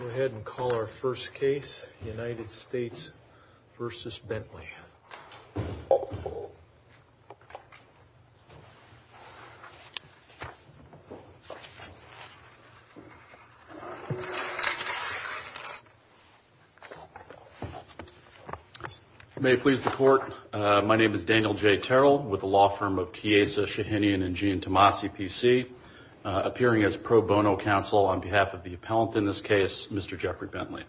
Go ahead and call our first case, United States v. Bentley. May it please the court, my name is Daniel J. Terrell with the law firm of Chiesa, Shahinian, and Jean Tomasi, P.C. Appearing as pro bono counsel on behalf of the appellant in this case, Mr. Jeffrey Bentley.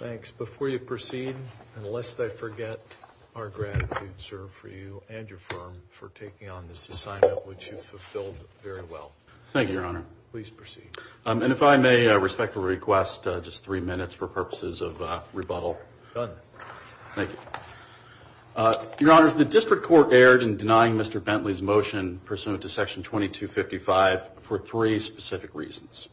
Thanks. Before you proceed, and lest I forget, our gratitude, sir, for you and your firm for taking on this assignment, which you've fulfilled very well. Thank you, Your Honor. Please proceed. And if I may, I respectfully request just three minutes for purposes of rebuttal. Done. Thank you. Your Honor, the district court erred in denying Mr. Bentley's motion pursuant to Section 2255 for three specific reasons.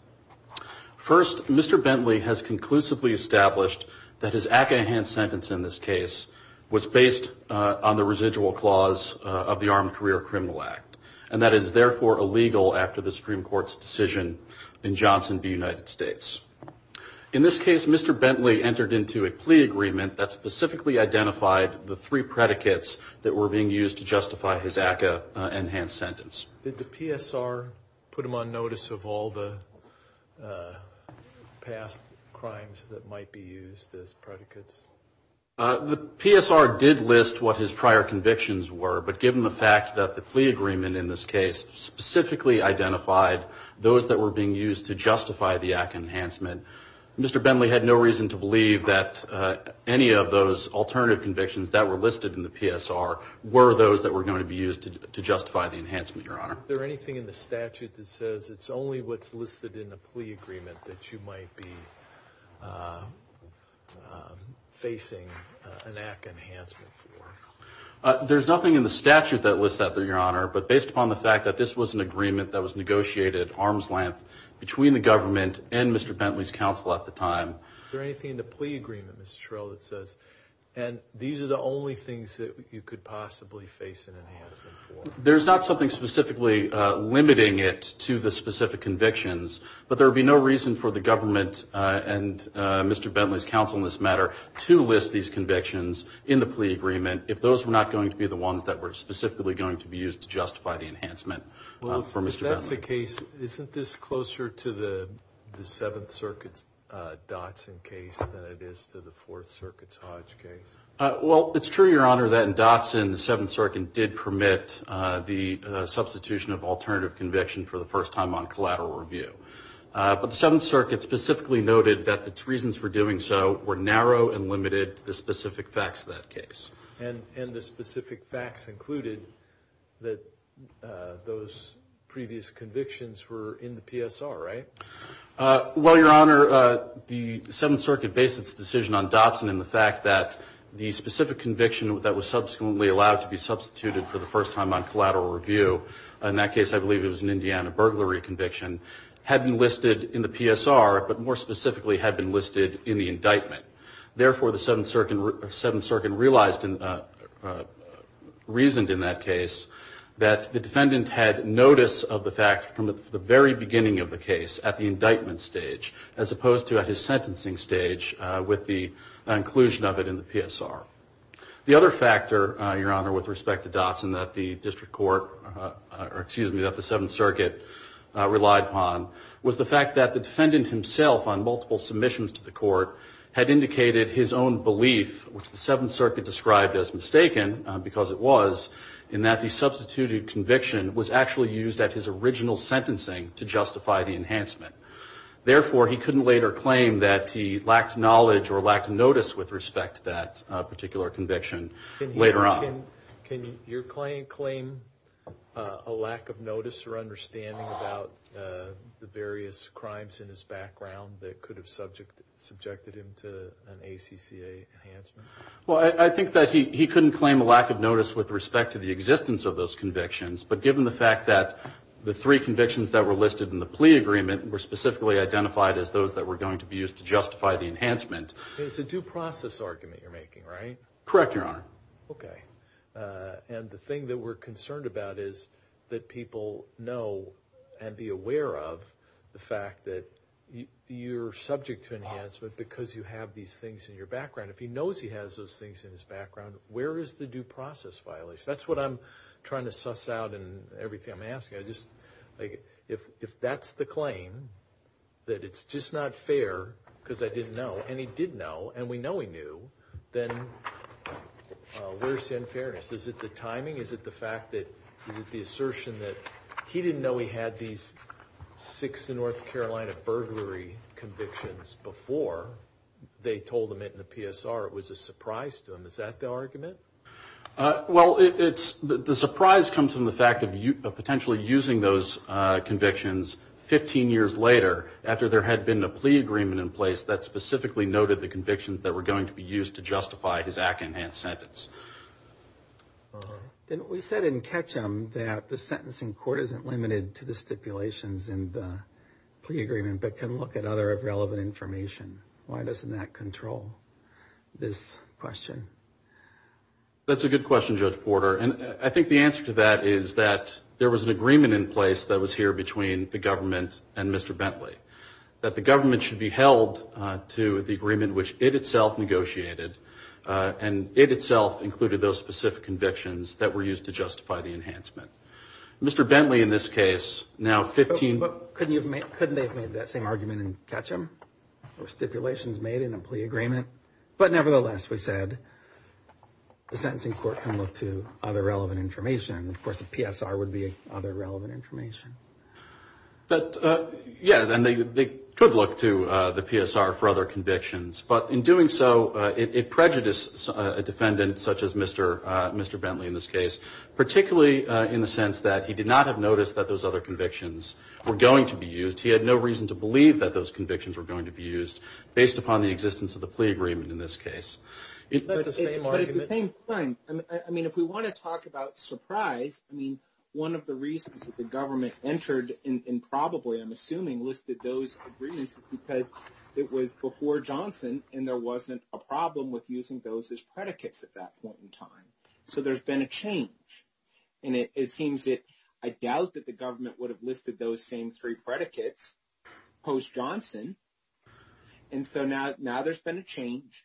First, Mr. Bentley has conclusively established that his Acahan sentence in this case was based on the residual clause of the Armed Career Criminal Act, and that is therefore illegal after the Supreme Court's decision in Johnson v. United States. In this case, Mr. Bentley entered into a plea agreement that specifically identified the three predicates that were being used to justify his Acahan sentence. Did the PSR put him on notice of all the past crimes that might be used as predicates? The PSR did list what his prior convictions were, but given the fact that the plea agreement in this case specifically identified those that were being used to justify the Acahan enhancement, Mr. Bentley had no reason to believe that any of those alternative convictions that were listed in the PSR were those that were going to be used to justify the enhancement, Your Honor. Is there anything in the statute that says it's only what's listed in the plea agreement that you might be facing an Acahan enhancement for? There's nothing in the statute that lists that, Your Honor, but based upon the fact that this was an agreement that was negotiated at arm's length between the government and Mr. Bentley's counsel at the time. Is there anything in the plea agreement, Mr. Terrell, that says, and these are the only things that you could possibly face an enhancement for? There's not something specifically limiting it to the specific convictions, but there would be no reason for the government and Mr. Bentley's counsel in this matter to list these convictions in the plea agreement if those were not going to be the ones that were specifically going to be used to justify the enhancement for Mr. Bentley. Well, if that's the case, isn't this closer to the Seventh Circuit's Dotson case than it is to the Fourth Circuit's Hodge case? Well, it's true, Your Honor, that in Dotson, the Seventh Circuit did permit the substitution of alternative conviction for the first time on collateral review. But the Seventh Circuit specifically noted that the reasons for doing so were narrow and limited to the specific facts of that case. And the specific facts included that those previous convictions were in the PSR, right? Well, Your Honor, the Seventh Circuit based its decision on Dotson in the fact that the specific conviction that was subsequently allowed to be substituted for the first time on collateral review, in that case I believe it was an Indiana burglary conviction, had been listed in the PSR, but more specifically had been listed in the indictment. Therefore, the Seventh Circuit reasoned in that case that the defendant had notice of the fact from the very beginning of the case at the indictment stage as opposed to at his sentencing stage with the inclusion of it in the PSR. The other factor, Your Honor, with respect to Dotson that the District Court, or excuse me, that the Seventh Circuit relied upon was the fact that the defendant himself on multiple submissions to the court had indicated his own belief, which the Seventh Circuit described as mistaken, because it was, in that the substituted conviction was actually used at his original sentencing to justify the enhancement. Therefore, he couldn't later claim that he lacked knowledge or lacked notice with respect to that particular conviction later on. Can your client claim a lack of notice or understanding about the various crimes in his background that could have subjected him to an ACCA enhancement? Well, I think that he couldn't claim a lack of notice with respect to the existence of those convictions, but given the fact that the three convictions that were listed in the plea agreement were specifically identified as those that were going to be used to justify the enhancement. It's a due process argument you're making, right? Correct, Your Honor. Okay. And the thing that we're concerned about is that people know and be aware of the fact that you're subject to enhancement because you have these things in your background. If he knows he has those things in his background, where is the due process violation? That's what I'm trying to suss out in everything I'm asking. If that's the claim, that it's just not fair because I didn't know, and he did know, and we know he knew, then where's the unfairness? Is it the timing? Is it the fact that, is it the assertion that he didn't know he had these six North Carolina burglary convictions before they told him it in the PSR? It was a surprise to him. Is that the argument? Well, the surprise comes from the fact of potentially using those convictions 15 years later after there had been a plea agreement in place that specifically noted the convictions that were going to be used to justify his act-enhanced sentence. We said in Ketchum that the sentencing court isn't limited to the stipulations in the plea agreement but can look at other relevant information. Why doesn't that control this question? That's a good question, Judge Porter. And I think the answer to that is that there was an agreement in place that was here between the government and Mr. Bentley, that the government should be held to the agreement which it itself negotiated, and it itself included those specific convictions that were used to justify the enhancement. Mr. Bentley, in this case, now 15- Couldn't they have made that same argument in Ketchum? Or stipulations made in a plea agreement? But nevertheless, we said the sentencing court can look to other relevant information. Of course, a PSR would be other relevant information. But, yes, and they could look to the PSR for other convictions. But in doing so, it prejudiced a defendant such as Mr. Bentley in this case, particularly in the sense that he did not have noticed that those other convictions were going to be used. He had no reason to believe that those convictions were going to be used, based upon the existence of the plea agreement in this case. But at the same time, I mean, if we want to talk about surprise, I mean, one of the reasons that the government entered and probably, I'm assuming, listed those agreements is because it was before Johnson, and there wasn't a problem with using those as predicates at that point in time. So there's been a change. And it seems that I doubt that the government would have listed those same three predicates post-Johnson. And so now there's been a change.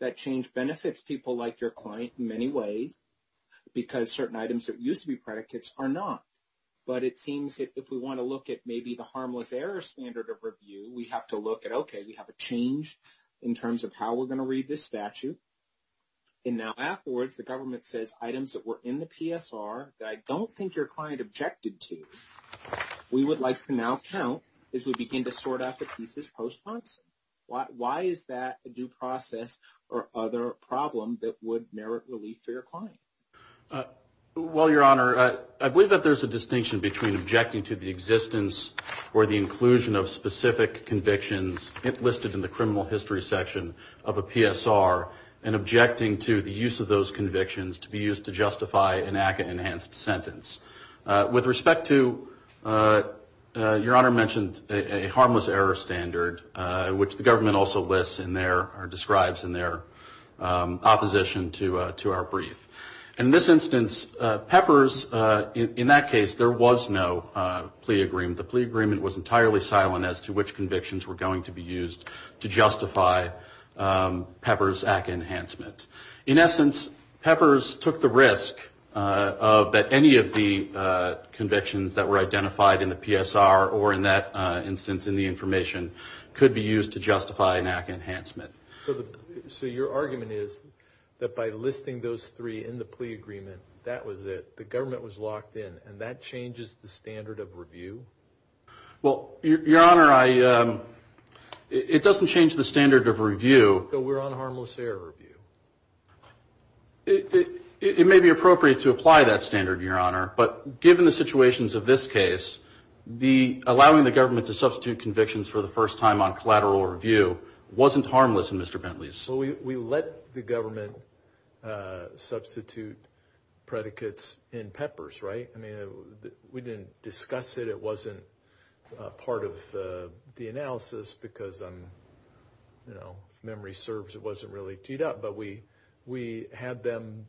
That change benefits people like your client in many ways, because certain items that used to be predicates are not. But it seems that if we want to look at maybe the harmless error standard of review, we have to look at, okay, we have a change in terms of how we're going to read this statute. And now afterwards, the government says items that were in the PSR, that I don't think your client objected to, we would like to now count as we begin to sort out the pieces post-Johnson. Why is that a due process or other problem that would merit relief for your client? Well, Your Honor, I believe that there's a distinction between objecting to the existence or the inclusion of specific convictions listed in the criminal history section of a PSR and objecting to the use of those convictions to be used to justify an ACCA-enhanced sentence. With respect to, Your Honor mentioned a harmless error standard, which the government also lists in their or describes in their opposition to our brief. In this instance, Peppers, in that case, there was no plea agreement. The plea agreement was entirely silent as to which convictions were going to be used to justify Peppers' ACCA enhancement. In essence, Peppers took the risk that any of the convictions that were identified in the PSR or in that instance in the information could be used to justify an ACCA enhancement. So your argument is that by listing those three in the plea agreement, that was it. The government was locked in, and that changes the standard of review? Well, Your Honor, it doesn't change the standard of review. So we're on harmless error review? It may be appropriate to apply that standard, Your Honor, but given the situations of this case, allowing the government to substitute convictions for the first time on collateral review wasn't harmless in Mr. Bentley's case. We let the government substitute predicates in Peppers, right? I mean, we didn't discuss it. It wasn't part of the analysis because, you know, memory serves, it wasn't really teed up. But we had them,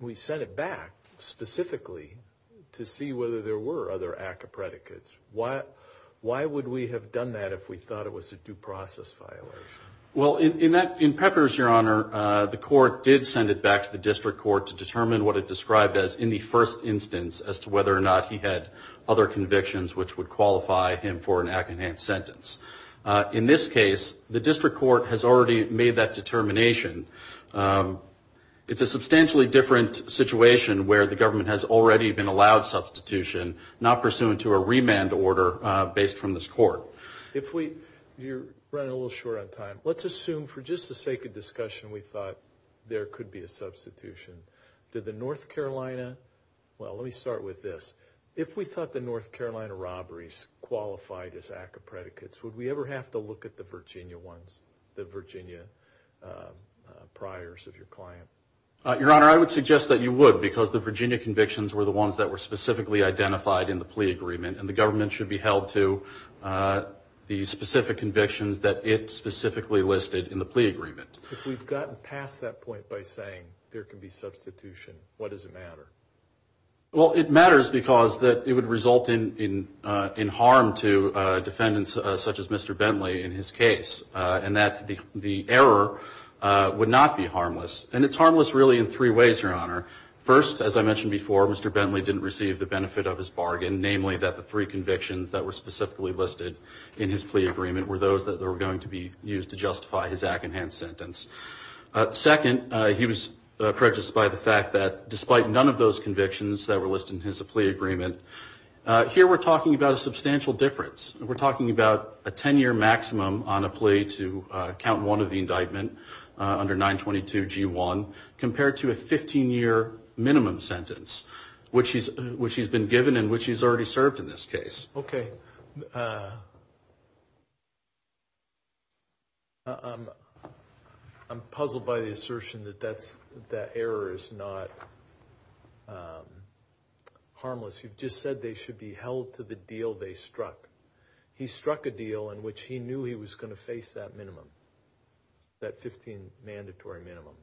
we sent it back specifically to see whether there were other ACCA predicates. Why would we have done that if we thought it was a due process violation? Well, in Peppers, Your Honor, the court did send it back to the district court to determine what it described as in the first instance as to whether or not he had other convictions which would qualify him for an ACCA enhanced sentence. In this case, the district court has already made that determination. It's a substantially different situation where the government has already been allowed substitution, not pursuant to a remand order based from this court. You're running a little short on time. Let's assume for just the sake of discussion we thought there could be a substitution. Did the North Carolina, well, let me start with this. If we thought the North Carolina robberies qualified as ACCA predicates, would we ever have to look at the Virginia ones, the Virginia priors of your client? Your Honor, I would suggest that you would because the Virginia convictions were the ones that were specifically identified in the plea agreement and the government should be held to the specific convictions that it specifically listed in the plea agreement. If we've gotten past that point by saying there could be substitution, what does it matter? Well, it matters because it would result in harm to defendants such as Mr. Bentley in his case, and that the error would not be harmless. And it's harmless really in three ways, Your Honor. First, as I mentioned before, Mr. Bentley didn't receive the benefit of his bargain, namely that the three convictions that were specifically listed in his plea agreement were those that were going to be used to justify his ACCA enhanced sentence. Second, he was prejudiced by the fact that despite none of those convictions that were listed in his plea agreement, here we're talking about a substantial difference. We're talking about a 10-year maximum on a plea to count one of the indictment under 922 G1 compared to a 15-year minimum sentence which he's been given and which he's already served in this case. Okay. I'm puzzled by the assertion that that error is not harmless. You've just said they should be held to the deal they struck. He struck a deal in which he knew he was going to face that minimum, that 15 mandatory minimum.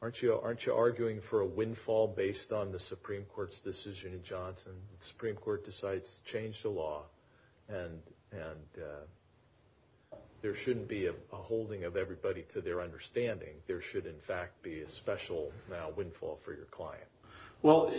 Aren't you arguing for a windfall based on the Supreme Court's decision in Johnson when the Supreme Court decides to change the law and there shouldn't be a holding of everybody to their understanding? There should, in fact, be a special, now, windfall for your client? Well,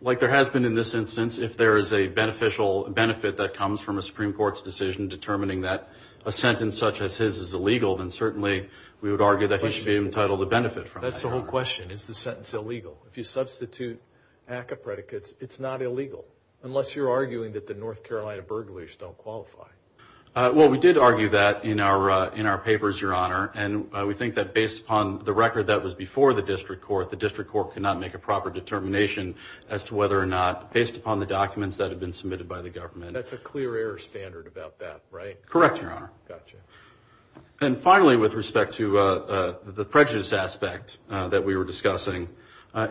like there has been in this instance, if there is a beneficial benefit that comes from a Supreme Court's decision determining that a sentence such as his is illegal, then certainly we would argue that he should be entitled to benefit from that error. That's the whole question. Is the sentence illegal? If you substitute ACCA predicates, it's not illegal, unless you're arguing that the North Carolina burglars don't qualify. Well, we did argue that in our papers, Your Honor, and we think that based upon the record that was before the district court, the district court cannot make a proper determination as to whether or not, based upon the documents that have been submitted by the government. That's a clear error standard about that, right? Correct, Your Honor. Gotcha. And finally, with respect to the prejudice aspect that we were discussing,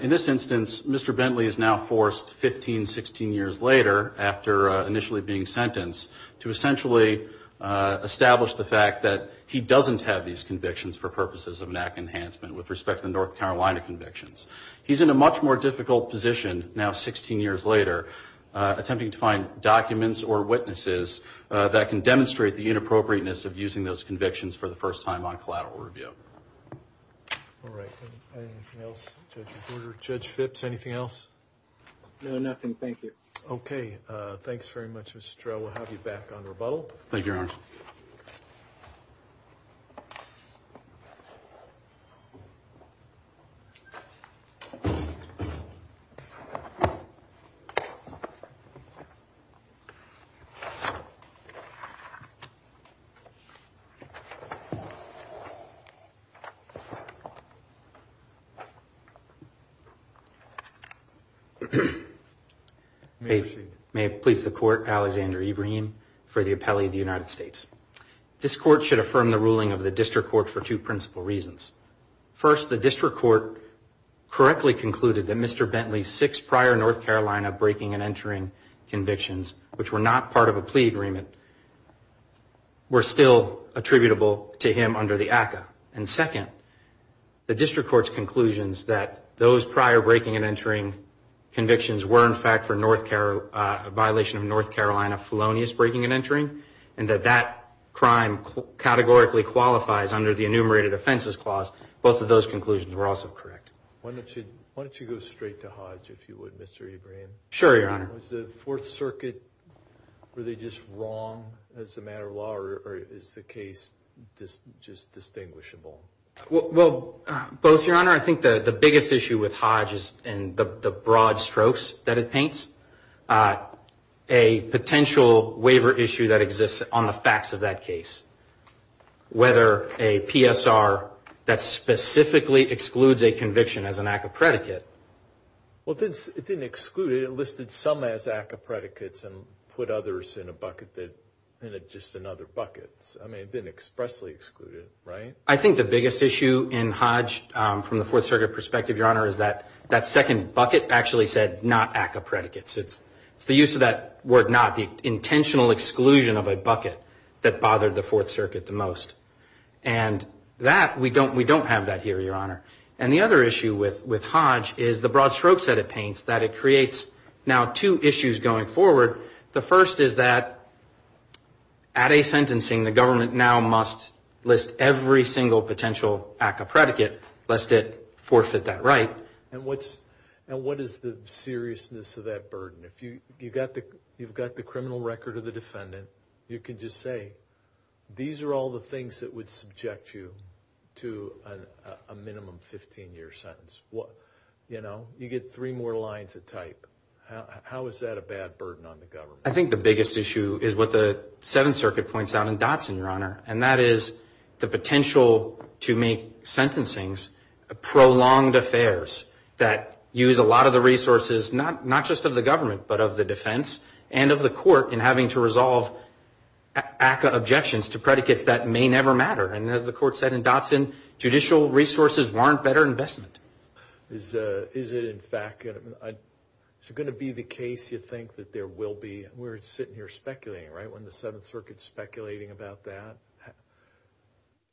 in this instance, Mr. Bentley is now forced 15, 16 years later, after initially being sentenced, to essentially establish the fact that he doesn't have these convictions for purposes of an act enhancement, with respect to the North Carolina convictions. He's in a much more difficult position now, 16 years later, attempting to find documents or witnesses that can demonstrate the inappropriateness of using those convictions for the first time on collateral review. All right. Anything else, Judge Reborder? Judge Phipps, anything else? No, nothing. Thank you. Okay. Thanks very much, Mr. Trell. We'll have you back on rebuttal. Thank you, Your Honor. May I proceed? May it please the Court, Alexander Ebrahim for the appellee of the United States. This Court should affirm the ruling of the District Court for two principal reasons. First, the District Court correctly concluded that Mr. Bentley's six prior North Carolina breaking and entering convictions, but were part of a plea to the District Court. were still attributable to him under the ACCA. And second, the District Court's conclusions that those prior breaking and entering convictions were, in fact, for a violation of North Carolina felonious breaking and entering, and that that crime categorically qualifies under the Enumerated Offenses Clause, both of those conclusions were also correct. Why don't you go straight to Hodge, if you would, Mr. Ebrahim. Sure, Your Honor. Was the Fourth Circuit really just wrong as a matter of law, or is the case just distinguishable? Well, both, Your Honor. I think the biggest issue with Hodge is in the broad strokes that it paints, a potential waiver issue that exists on the facts of that case, whether a PSR that specifically excludes a conviction as an act of predicate. Well, it didn't exclude it. It listed some as act of predicates and put others in a bucket that, just in other buckets. I mean, it didn't expressly exclude it, right? I think the biggest issue in Hodge from the Fourth Circuit perspective, Your Honor, is that that second bucket actually said not act of predicates. It's the use of that word not, the intentional exclusion of a bucket that bothered the Fourth Circuit the most. And that, we don't have that here, Your Honor. And the other issue with Hodge is the broad strokes that it paints, that it creates now two issues going forward. The first is that, at a sentencing, the government now must list every single potential act of predicate, lest it forfeit that right. And what is the seriousness of that burden? You've got the criminal record of the defendant. You can just say, these are all the things that would subject you to a minimum 15-year sentence. You get three more lines of type. How is that a bad burden on the government? I think the biggest issue is what the Seventh Circuit points out in Dotson, Your Honor, and that is the potential to make sentencings prolonged affairs that use a lot of the resources, not just of the government, but of the defense and of the court in having to resolve ACCA objections to predicates that may never matter. And as the court said in Dotson, judicial resources warrant better investment. Is it in fact going to be the case, you think, that there will be, we're sitting here speculating, right, when the Seventh Circuit's speculating about that,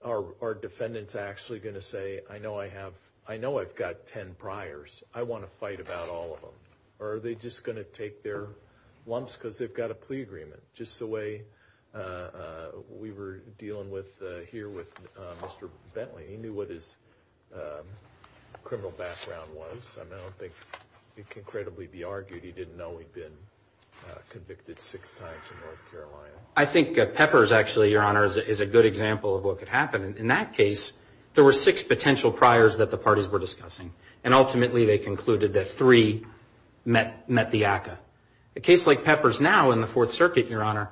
are defendants actually going to say, I know I have, I know I've got 10 priors. I want to fight about all of them. Or are they just going to take their lumps because they've got a plea agreement, just the way we were dealing with here with Mr. Bentley? He knew what his criminal background was. I mean, I don't think it can credibly be argued he didn't know he'd been convicted six times in North Carolina. I think Peppers, actually, Your Honor, is a good example of what could happen. In that case, there were six potential priors that the parties were discussing, and ultimately they concluded that three met the ACCA. A case like Peppers now in the Fourth Circuit, Your Honor,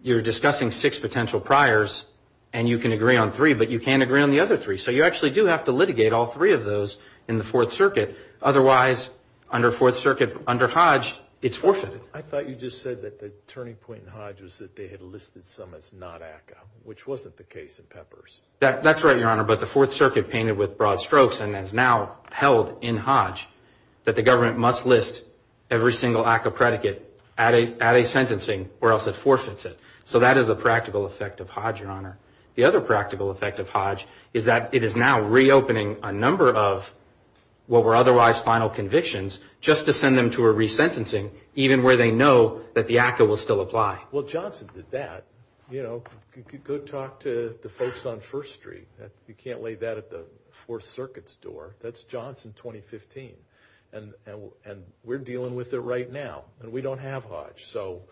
you're discussing six potential priors, and you can agree on three, but you can't agree on the other three. So you actually do have to litigate all three of those in the Fourth Circuit. Otherwise, under Fourth Circuit, under Hodge, it's forfeited. I thought you just said that the turning point in Hodge was that they had listed some as not ACCA, which wasn't the case in Peppers. That's right, Your Honor, but the Fourth Circuit painted with broad strokes and has now held in Hodge that the government must list every single ACCA predicate at a sentencing or else it forfeits it. So that is the practical effect of Hodge, Your Honor. The other practical effect of Hodge is that it is now reopening a number of what were otherwise final convictions just to send them to a resentencing, even where they know that the ACCA will still apply. Well, Johnson did that. You know, go talk to the folks on First Street. You can't lay that at the Fourth Circuit's door. That's Johnson 2015, and we're dealing with it right now, and we don't have Hodge. So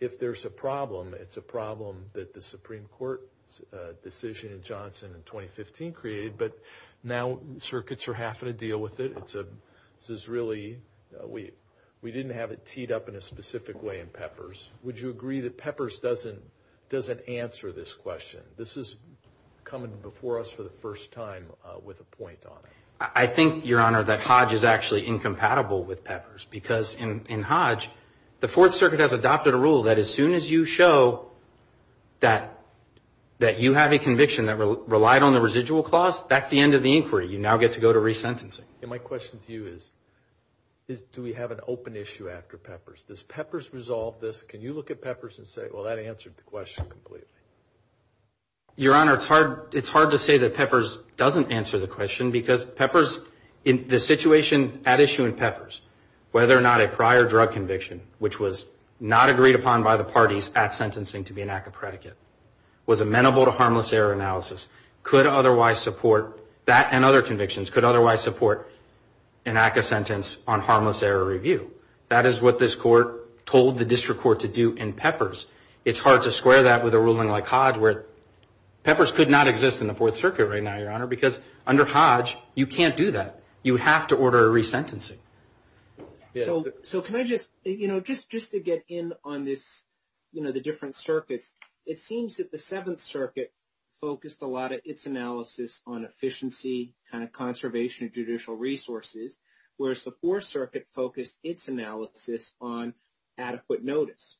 if there's a problem, it's a problem that the Supreme Court's decision in Johnson in 2015 created, but now circuits are having to deal with it. This is really, we didn't have it teed up in a specific way in Peppers. Would you agree that Peppers doesn't answer this question? This is coming before us for the first time with a point on it. I think, Your Honor, that Hodge is actually incompatible with Peppers because in Hodge, the Fourth Circuit has adopted a rule that as soon as you show that you have a conviction that relied on the residual clause, that's the end of the inquiry. You now get to go to resentencing. And my question to you is, do we have an open issue after Peppers? Does Peppers resolve this? Can you look at Peppers and say, well, that answered the question completely? Your Honor, the situation at issue in Peppers, whether or not a prior drug conviction, which was not agreed upon by the parties at sentencing to be an act of predicate, was amenable to harmless error analysis, could otherwise support, that and other convictions could otherwise support an act of sentence on harmless error review. That is what this court told the district court to do in Peppers. It's hard to square that with a ruling like Hodge where Peppers could not exist in the Fourth Circuit right now, Your Honor, because under Hodge, you can't do that. You have to order a resentencing. So can I just, you know, just to get in on this, you know, the different circuits, it seems that the Seventh Circuit focused a lot of its analysis on efficiency, kind of conservation of judicial resources, whereas the Fourth Circuit focused its analysis on adequate notice.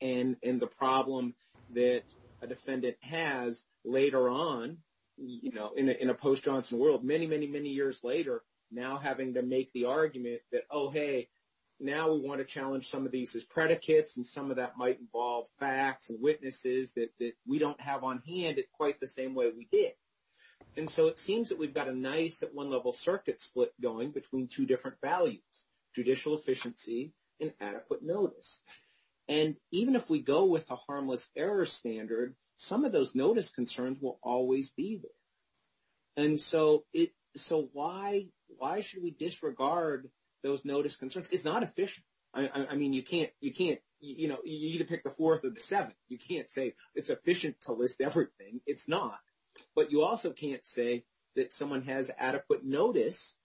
And the problem that a defendant has later on, you know, in a post Johnson world, many, many, many defendants tend to make the argument that, oh, hey, now we want to challenge some of these as predicates. And some of that might involve facts and witnesses that we don't have on hand quite the same way we did. And so it seems that we've got a nice at one level circuit split going between two different values, judicial efficiency and adequate notice. And even if we go with a harmless error standard, some of those notice concerns will always be there. And so it, so why, why should we disregard those notice concerns? It's not efficient. I mean, you can't, you can't, you know, you need to pick the fourth or the seventh. You can't say it's efficient to list everything. It's not, but you also can't say that someone has adequate notice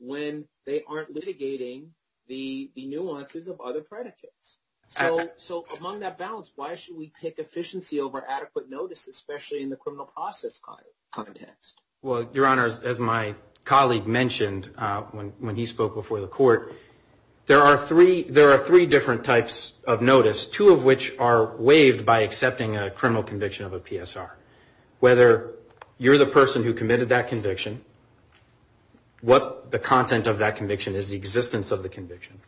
when they aren't litigating the nuances of other predicates. So, so among that balance, why should we pick efficiency over adequate notice, especially in the criminal process context? Well, Your Honor, as my colleague mentioned when he spoke before the court, there are three, there are three different types of notice, two of which are waived by accepting a criminal conviction of a PSR. Whether you're the person who committed that conviction, what the content of that conviction is, the existence of the conviction.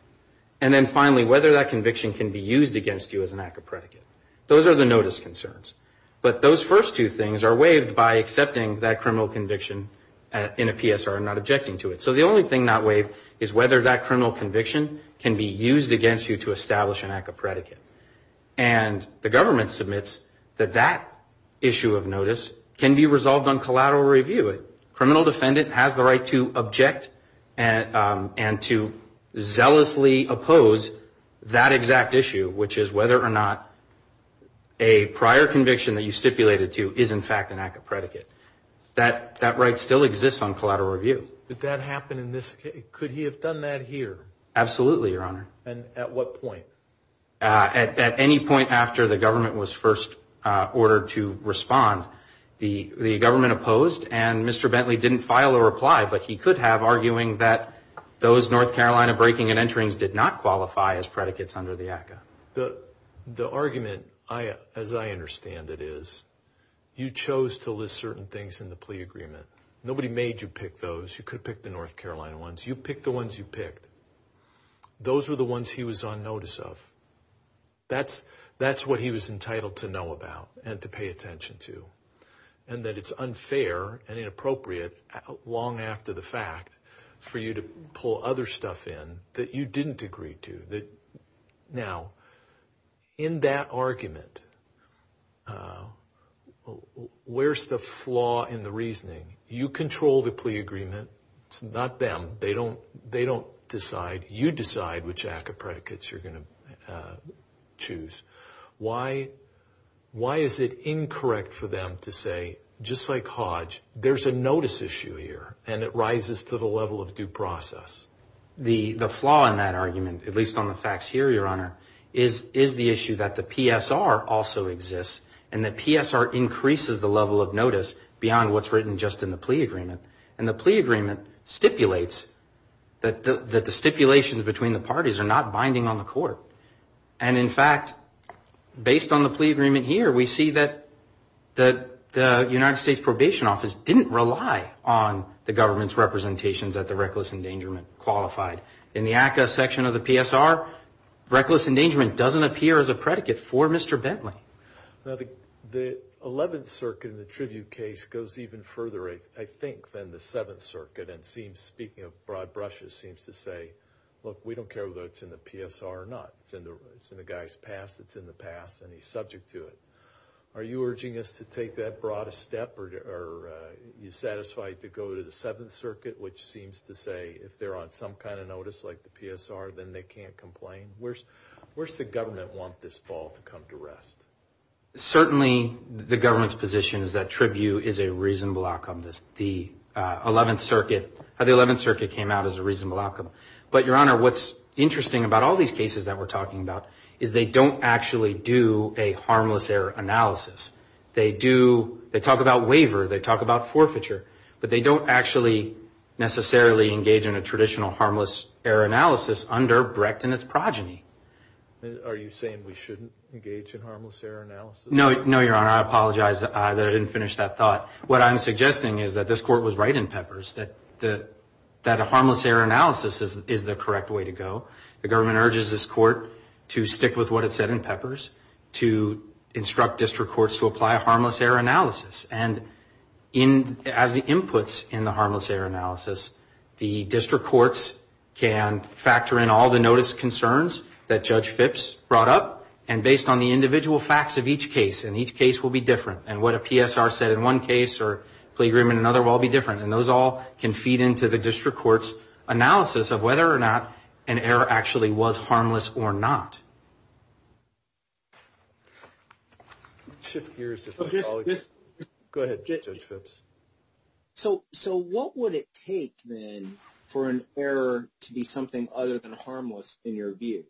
And then finally, whether that conviction can be used against you as an act of predicate. Those are the notice concerns. But those first two things are waived by accepting that criminal conviction in a PSR and not objecting to it. So the only thing not waived is whether that criminal conviction can be used against you to establish an act of predicate. And the government submits that that issue of notice can be resolved on collateral review. A criminal defendant has the right to object and to zealously oppose that exact issue, which is whether or not a prior conviction that you stipulated to is, in fact, an act of predicate. That right still exists on collateral review. Did that happen in this case? Could he have done that here? Absolutely, Your Honor. And at what point? At any point after the government was first ordered to respond. The government opposed, and Mr. Bentley didn't file a reply, but he could have, arguing that those North Carolina breaking and enterings did not qualify as predicates under the ACCA. The argument, as I understand it, is you chose to list certain things in the plea agreement. Nobody made you pick those. You could have picked the North Carolina ones. You picked the ones you picked. Those were the ones he was on notice of. That's what he was entitled to know about and to pay attention to, and that it's unfair and inappropriate, long after the fact, for you to pull other stuff in that you didn't agree to. Now, in that argument, where's the flaw in the reasoning? You control the plea agreement. It's not them. They don't decide. You decide which act of predicates you're going to choose. Why is it incorrect for them to say, just like Hodge, there's a notice issue here, and it rises to the level of due process? The flaw in that argument, at least on the facts here, Your Honor, is the issue that the PSR also exists, and the PSR increases the level of notice beyond what's written just in the plea agreement, and the plea agreement stipulates that the stipulations between the parties are not binding on the court, and, in fact, based on the plea agreement here, we see that the United States Probation Office didn't rely on the government's representations that the reckless endangerment qualified. In the ACCA section of the PSR, reckless endangerment doesn't appear as a predicate for Mr. Bentley. Now, the 11th Circuit in the tribute case goes even further, I think, than the 7th Circuit, and speaking of broad brushes, look, we don't care whether it's in the PSR or not. It's in the guy's past. It's in the past, and he's subject to it. Are you urging us to take that broad a step, or are you satisfied to go to the 7th Circuit, which seems to say if they're on some kind of notice like the PSR, then they can't complain? Where's the government want this fall to come to rest? Certainly, the government's position is that tribute is a reasonable outcome. The 11th Circuit, the 7th Circuit came out as a reasonable outcome. But, Your Honor, what's interesting about all these cases that we're talking about is they don't actually do a harmless error analysis. They do, they talk about waiver, they talk about forfeiture, but they don't actually necessarily engage in a traditional harmless error analysis under Brecht and its progeny. Are you saying we shouldn't engage in harmless error analysis? No, Your Honor, I apologize that I didn't finish that thought. What I'm suggesting is that this Court was right in Peppers, that a harmless error analysis is the correct way to go. The government urges this Court to stick with what it said in Peppers, to instruct district courts to apply a harmless error analysis. And as the inputs in the harmless error analysis, the district courts can factor in all the notice concerns that Judge Phipps brought up, and based on the individual facts of each case, and each case will be different. And what a PSR said in one case or plea agreement in another will all be different. And those all can feed into the district court's analysis of whether or not an error actually was harmless or not. Go ahead, Judge Phipps. So what would it take then for an error to be something other than harmless in your view?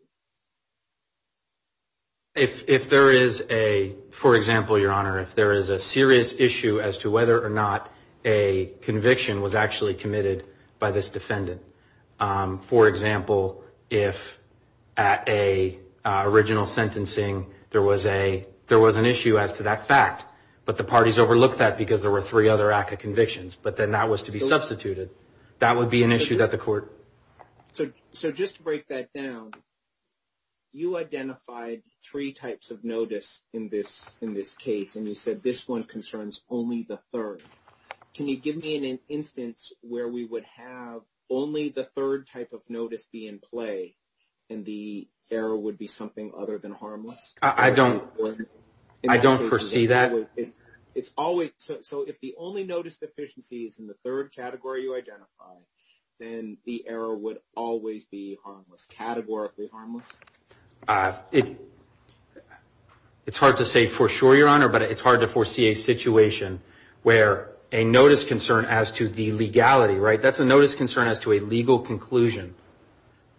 If there is a, for example, Your Honor, if there is a serious issue as to whether or not a conviction was actually committed by this defendant. For example, if at a original sentencing, there was a, there was an issue as to that fact, but the parties overlooked that because there were three other ACA convictions, but then that was to be substituted. That would be an issue that the court. So, so just to break that down, You identified three types of notice in this, in this case, and you said this one concerns only the third. Can you give me an instance where we would have only the third type of notice be in play and the error would be something other than harmless? I don't, I don't foresee that. It's always. So if the only notice deficiency is in the third category you identify, then the error would always be harmless, categorically harmless. It, it's hard to say for sure, Your Honor, but it's hard to foresee a situation where a notice concern as to the legality, right, that's a notice concern as to a legal conclusion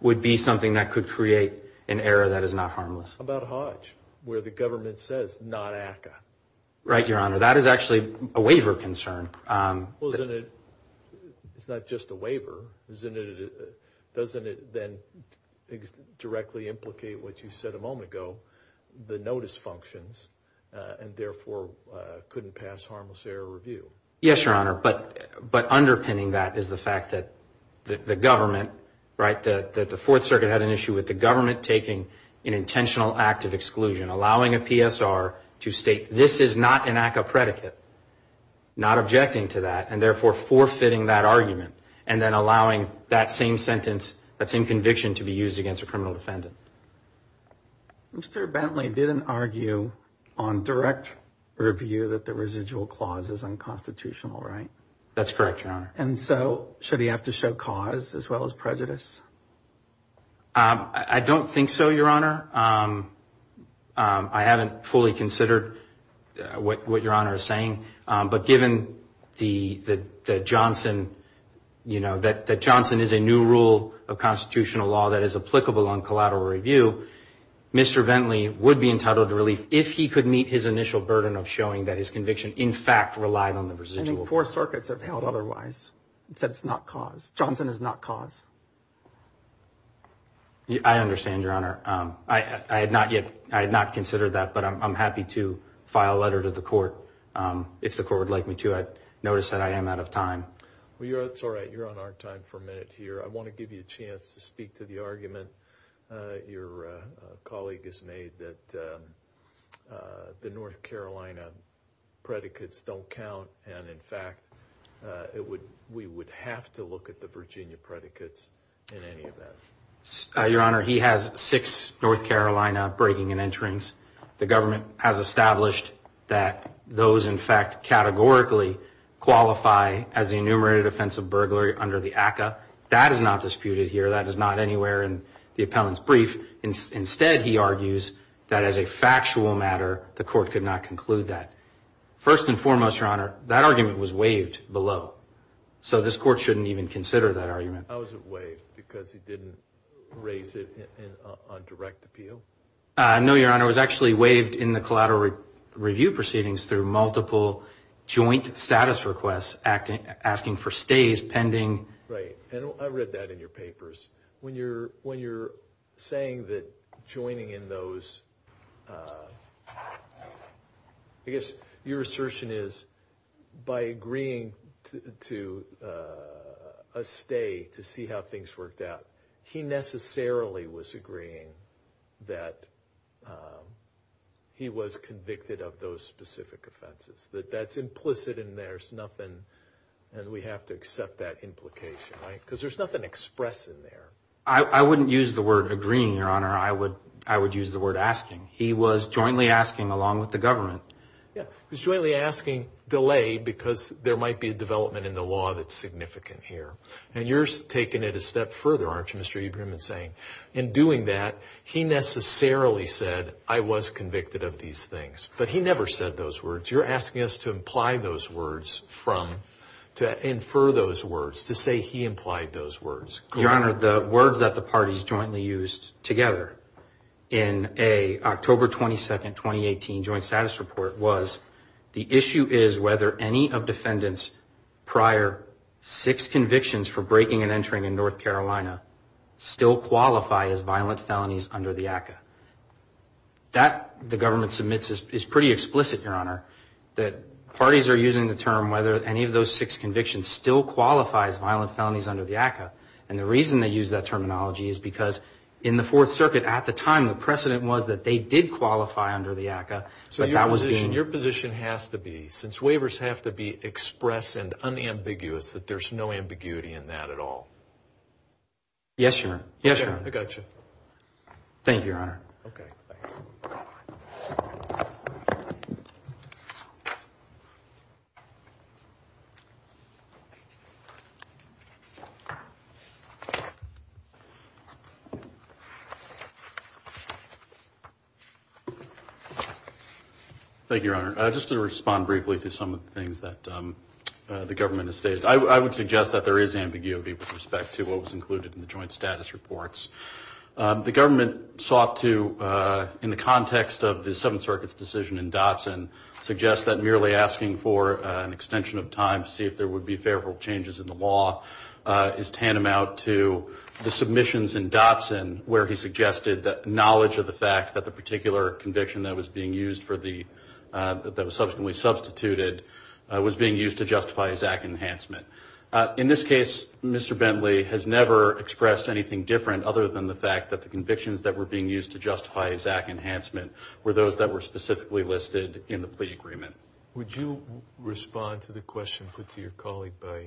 would be something that could create an error that is not harmless. How about Hodge, where the government says not ACA? Your Honor, that is actually a waiver concern. Well, isn't it, it's not just a waiver, isn't it, doesn't it then directly implicate what you said a moment ago, the notice functions, and therefore couldn't pass harmless error review. Yes, Your Honor, but, but underpinning that is the fact that the government, right, that the fourth circuit had an issue with the government taking an intentional act of exclusion, allowing a PSR to state, this is not an ACA predicate, not objecting to that and therefore forfeiting that argument and then allowing that same sentence, that same conviction to be used against a criminal defendant. Mr. Bentley didn't argue on direct review that the residual clauses unconstitutional, right? That's correct, Your Honor. And so should he have to show cause as well as prejudice? I don't think so, Your Honor. I haven't fully considered what, what Your Honor is saying, but given the, the, the Johnson, you know, that, that Johnson is a new rule of constitutional law that is applicable on collateral review. Mr. Bentley would be entitled to relief if he could meet his initial burden of showing that his conviction, in fact, Four circuits have held. Otherwise that's not cause. Johnson is not cause. I understand, Your Honor. I, I had not yet. I had not considered that, but I'm happy to file a letter to the court. If the court would like me to, I noticed that I am out of time. Well, you're, it's all right. You're on our time for a minute here. I want to give you a chance to speak to the argument. Your colleague has made that the North Carolina predicates don't count. And in fact, it would, we would have to look at the Virginia predicates in any event. Your Honor, he has six North Carolina breaking and enterings. The government has established that those, in fact, categorically qualify as the enumerated offensive burglary under the ACA. That is not disputed here. That is not anywhere in the appellant's brief. Instead, he argues that as a factual matter, the court could not conclude that. First and foremost, Your Honor, that argument was waived below. So this court shouldn't even consider that argument. How was it waived? Because he didn't raise it on direct appeal? No, Your Honor, it was actually waived in the collateral review proceedings through multiple joint status requests asking for stays pending. Right. And I read that in your papers. When you're saying that joining in those, I guess your assertion is by agreeing to a stay, to see how things worked out, he necessarily was agreeing that he was convicted of those specific offenses. That that's implicit and there's nothing, and we have to accept that implication, right? Because there's nothing expressed in there. I wouldn't use the word agreeing, Your Honor. I would use the word asking. He was jointly asking along with the government. Yeah. He was jointly asking delayed because there might be a development in the law that's significant here. And you're taking it a step further, aren't you? Mr. Eberman saying in doing that, he necessarily said I was convicted of these things, but he never said those words. You're asking us to imply those words from to infer those words to say he implied those words. Your Honor, the words that the parties jointly used together in a October 22nd, 2018 joint status report was the issue is whether any of defendants prior six convictions for breaking and entering in North Carolina still qualify as violent felonies under the ACCA. That the government submits is pretty explicit, Your Honor, that parties are using the term whether any of those six convictions still qualifies violent felonies under the ACCA. And the reason they use that terminology is because in the Fourth Circuit at the time, the precedent was that they did qualify under the ACCA, but that was being. Your position has to be since waivers have to be expressed and unambiguous that there's no ambiguity in that at all. Yes, Your Honor. Yes, I got you. Thank you, Your Honor. Okay. Thank you, Your Honor. Just to respond briefly to some of the things that the government has stated, I would suggest that there is ambiguity with respect to what was included in the joint status reports. The government sought to, in the context of the Seventh Circuit's decision in Dotson, suggest that merely asking for an extension of time to see if there would be favorable changes in the law is tantamount to the submissions in Dotson where he suggested that knowledge of the fact that the particular conviction that was being used for the, that was subsequently substituted, was being used to justify a Zach enhancement. In this case, Mr. Bentley has never expressed anything different other than the fact that the convictions that were being used to justify a Zach enhancement were those that were specifically listed in the plea agreement. Would you respond to the question put to your colleague by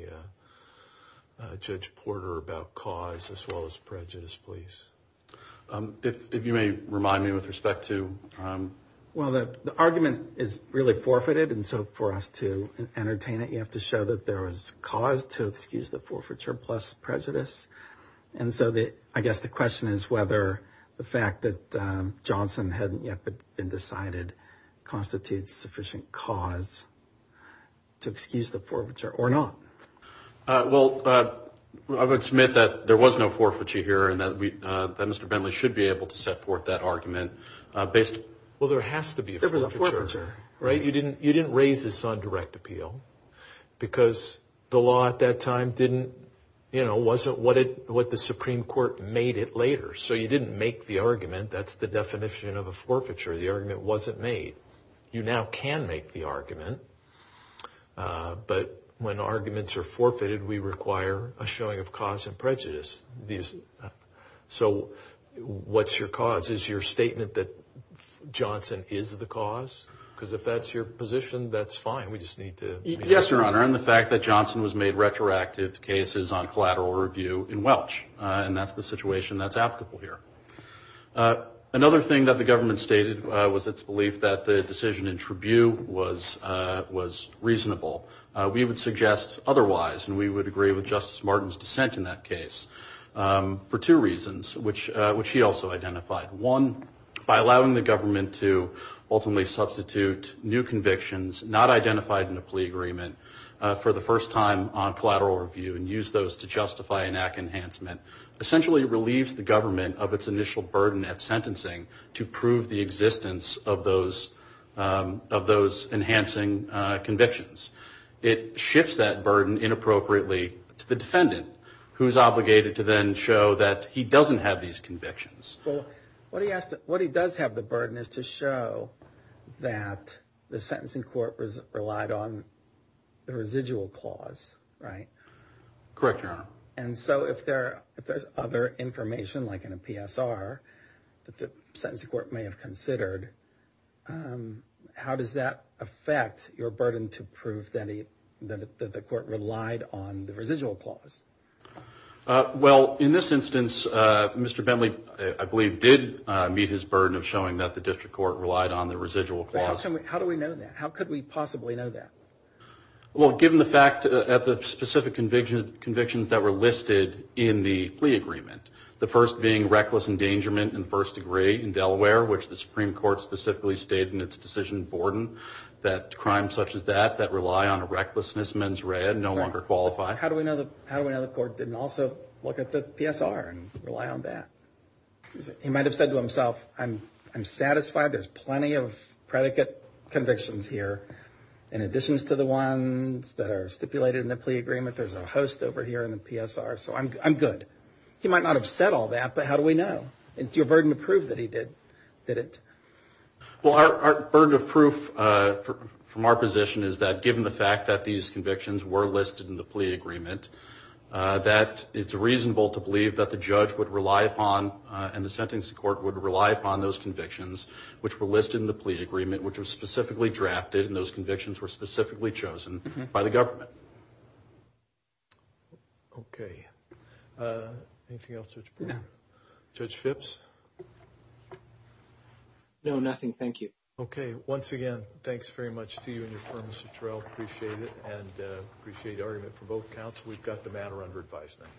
Judge Porter about cause as well as prejudice, please? If you may remind me with respect to. Well, the argument is really forfeited. And so for us to entertain it, you have to show that there was cause to excuse the forfeiture plus prejudice. And so I guess the question is whether the fact that Johnson hadn't yet been decided constitutes sufficient cause to excuse the forfeiture or not. Well, I would submit that there was no forfeiture here and that we, that Mr. Bentley should be able to set forth that argument based. Well, there has to be a forfeiture, right? You didn't raise this on direct appeal because the law at that time didn't, you know, wasn't what the Supreme Court made it later. So you didn't make the argument. That's the definition of a forfeiture. The argument wasn't made. You now can make the argument. But when arguments are forfeited, we require a showing of cause and prejudice. So what's your cause? Is your statement that Johnson is the cause? Because if that's your position, that's fine. We just need to. Yes, Your Honor. And the fact that Johnson was made retroactive cases on collateral review in Welch, and that's the situation that's applicable here. Another thing that the government stated was its belief that the decision in that case was reasonable. We would suggest otherwise, and we would agree with Justice Martin's dissent in that case for two reasons, which he also identified. One, by allowing the government to ultimately substitute new convictions not identified in a plea agreement for the first time on collateral review and use those to justify an act enhancement essentially relieves the government of its initial burden at sentencing to prove the existence of those enhancing convictions. It shifts that burden inappropriately to the defendant, who is obligated to then show that he doesn't have these convictions. Well, what he does have the burden is to show that the sentencing court relied on the residual clause, right? Correct, Your Honor. And so if there's other information, like in a PSR that the sentencing court may have considered, how does that affect your burden to prove that the court relied on the residual clause? Well, in this instance, Mr. Bentley, I believe, did meet his burden of showing that the district court relied on the residual clause. How do we know that? How could we possibly know that? Well, given the fact that the specific convictions that were listed in the plea agreement, the first being reckless endangerment in first degree in Delaware, which the Supreme Court specifically stated in its decision in Borden, that crimes such as that that rely on a recklessness mens rea no longer qualify. How do we know the court didn't also look at the PSR and rely on that? He might've said to himself, I'm satisfied there's plenty of predicate convictions here. In addition to the ones that are stipulated in the plea agreement, there's a host over here in the PSR, so I'm good. He might not have said all that, but how do we know? It's your burden to prove that he did it. Well, our burden of proof from our position is that given the fact that these convictions were listed in the plea agreement, that it's reasonable to believe that the judge would rely upon and the sentencing court would rely upon those convictions, which were listed in the plea agreement, which was specifically drafted and those convictions were specifically chosen by the government. Okay. Anything else, Judge Borden? No. Judge Phipps? No, nothing. Thank you. Okay. Once again, thanks very much to you and your firm, Mr. Terrell. Appreciate it. And appreciate your argument for both counts. We've got the matter under advisement.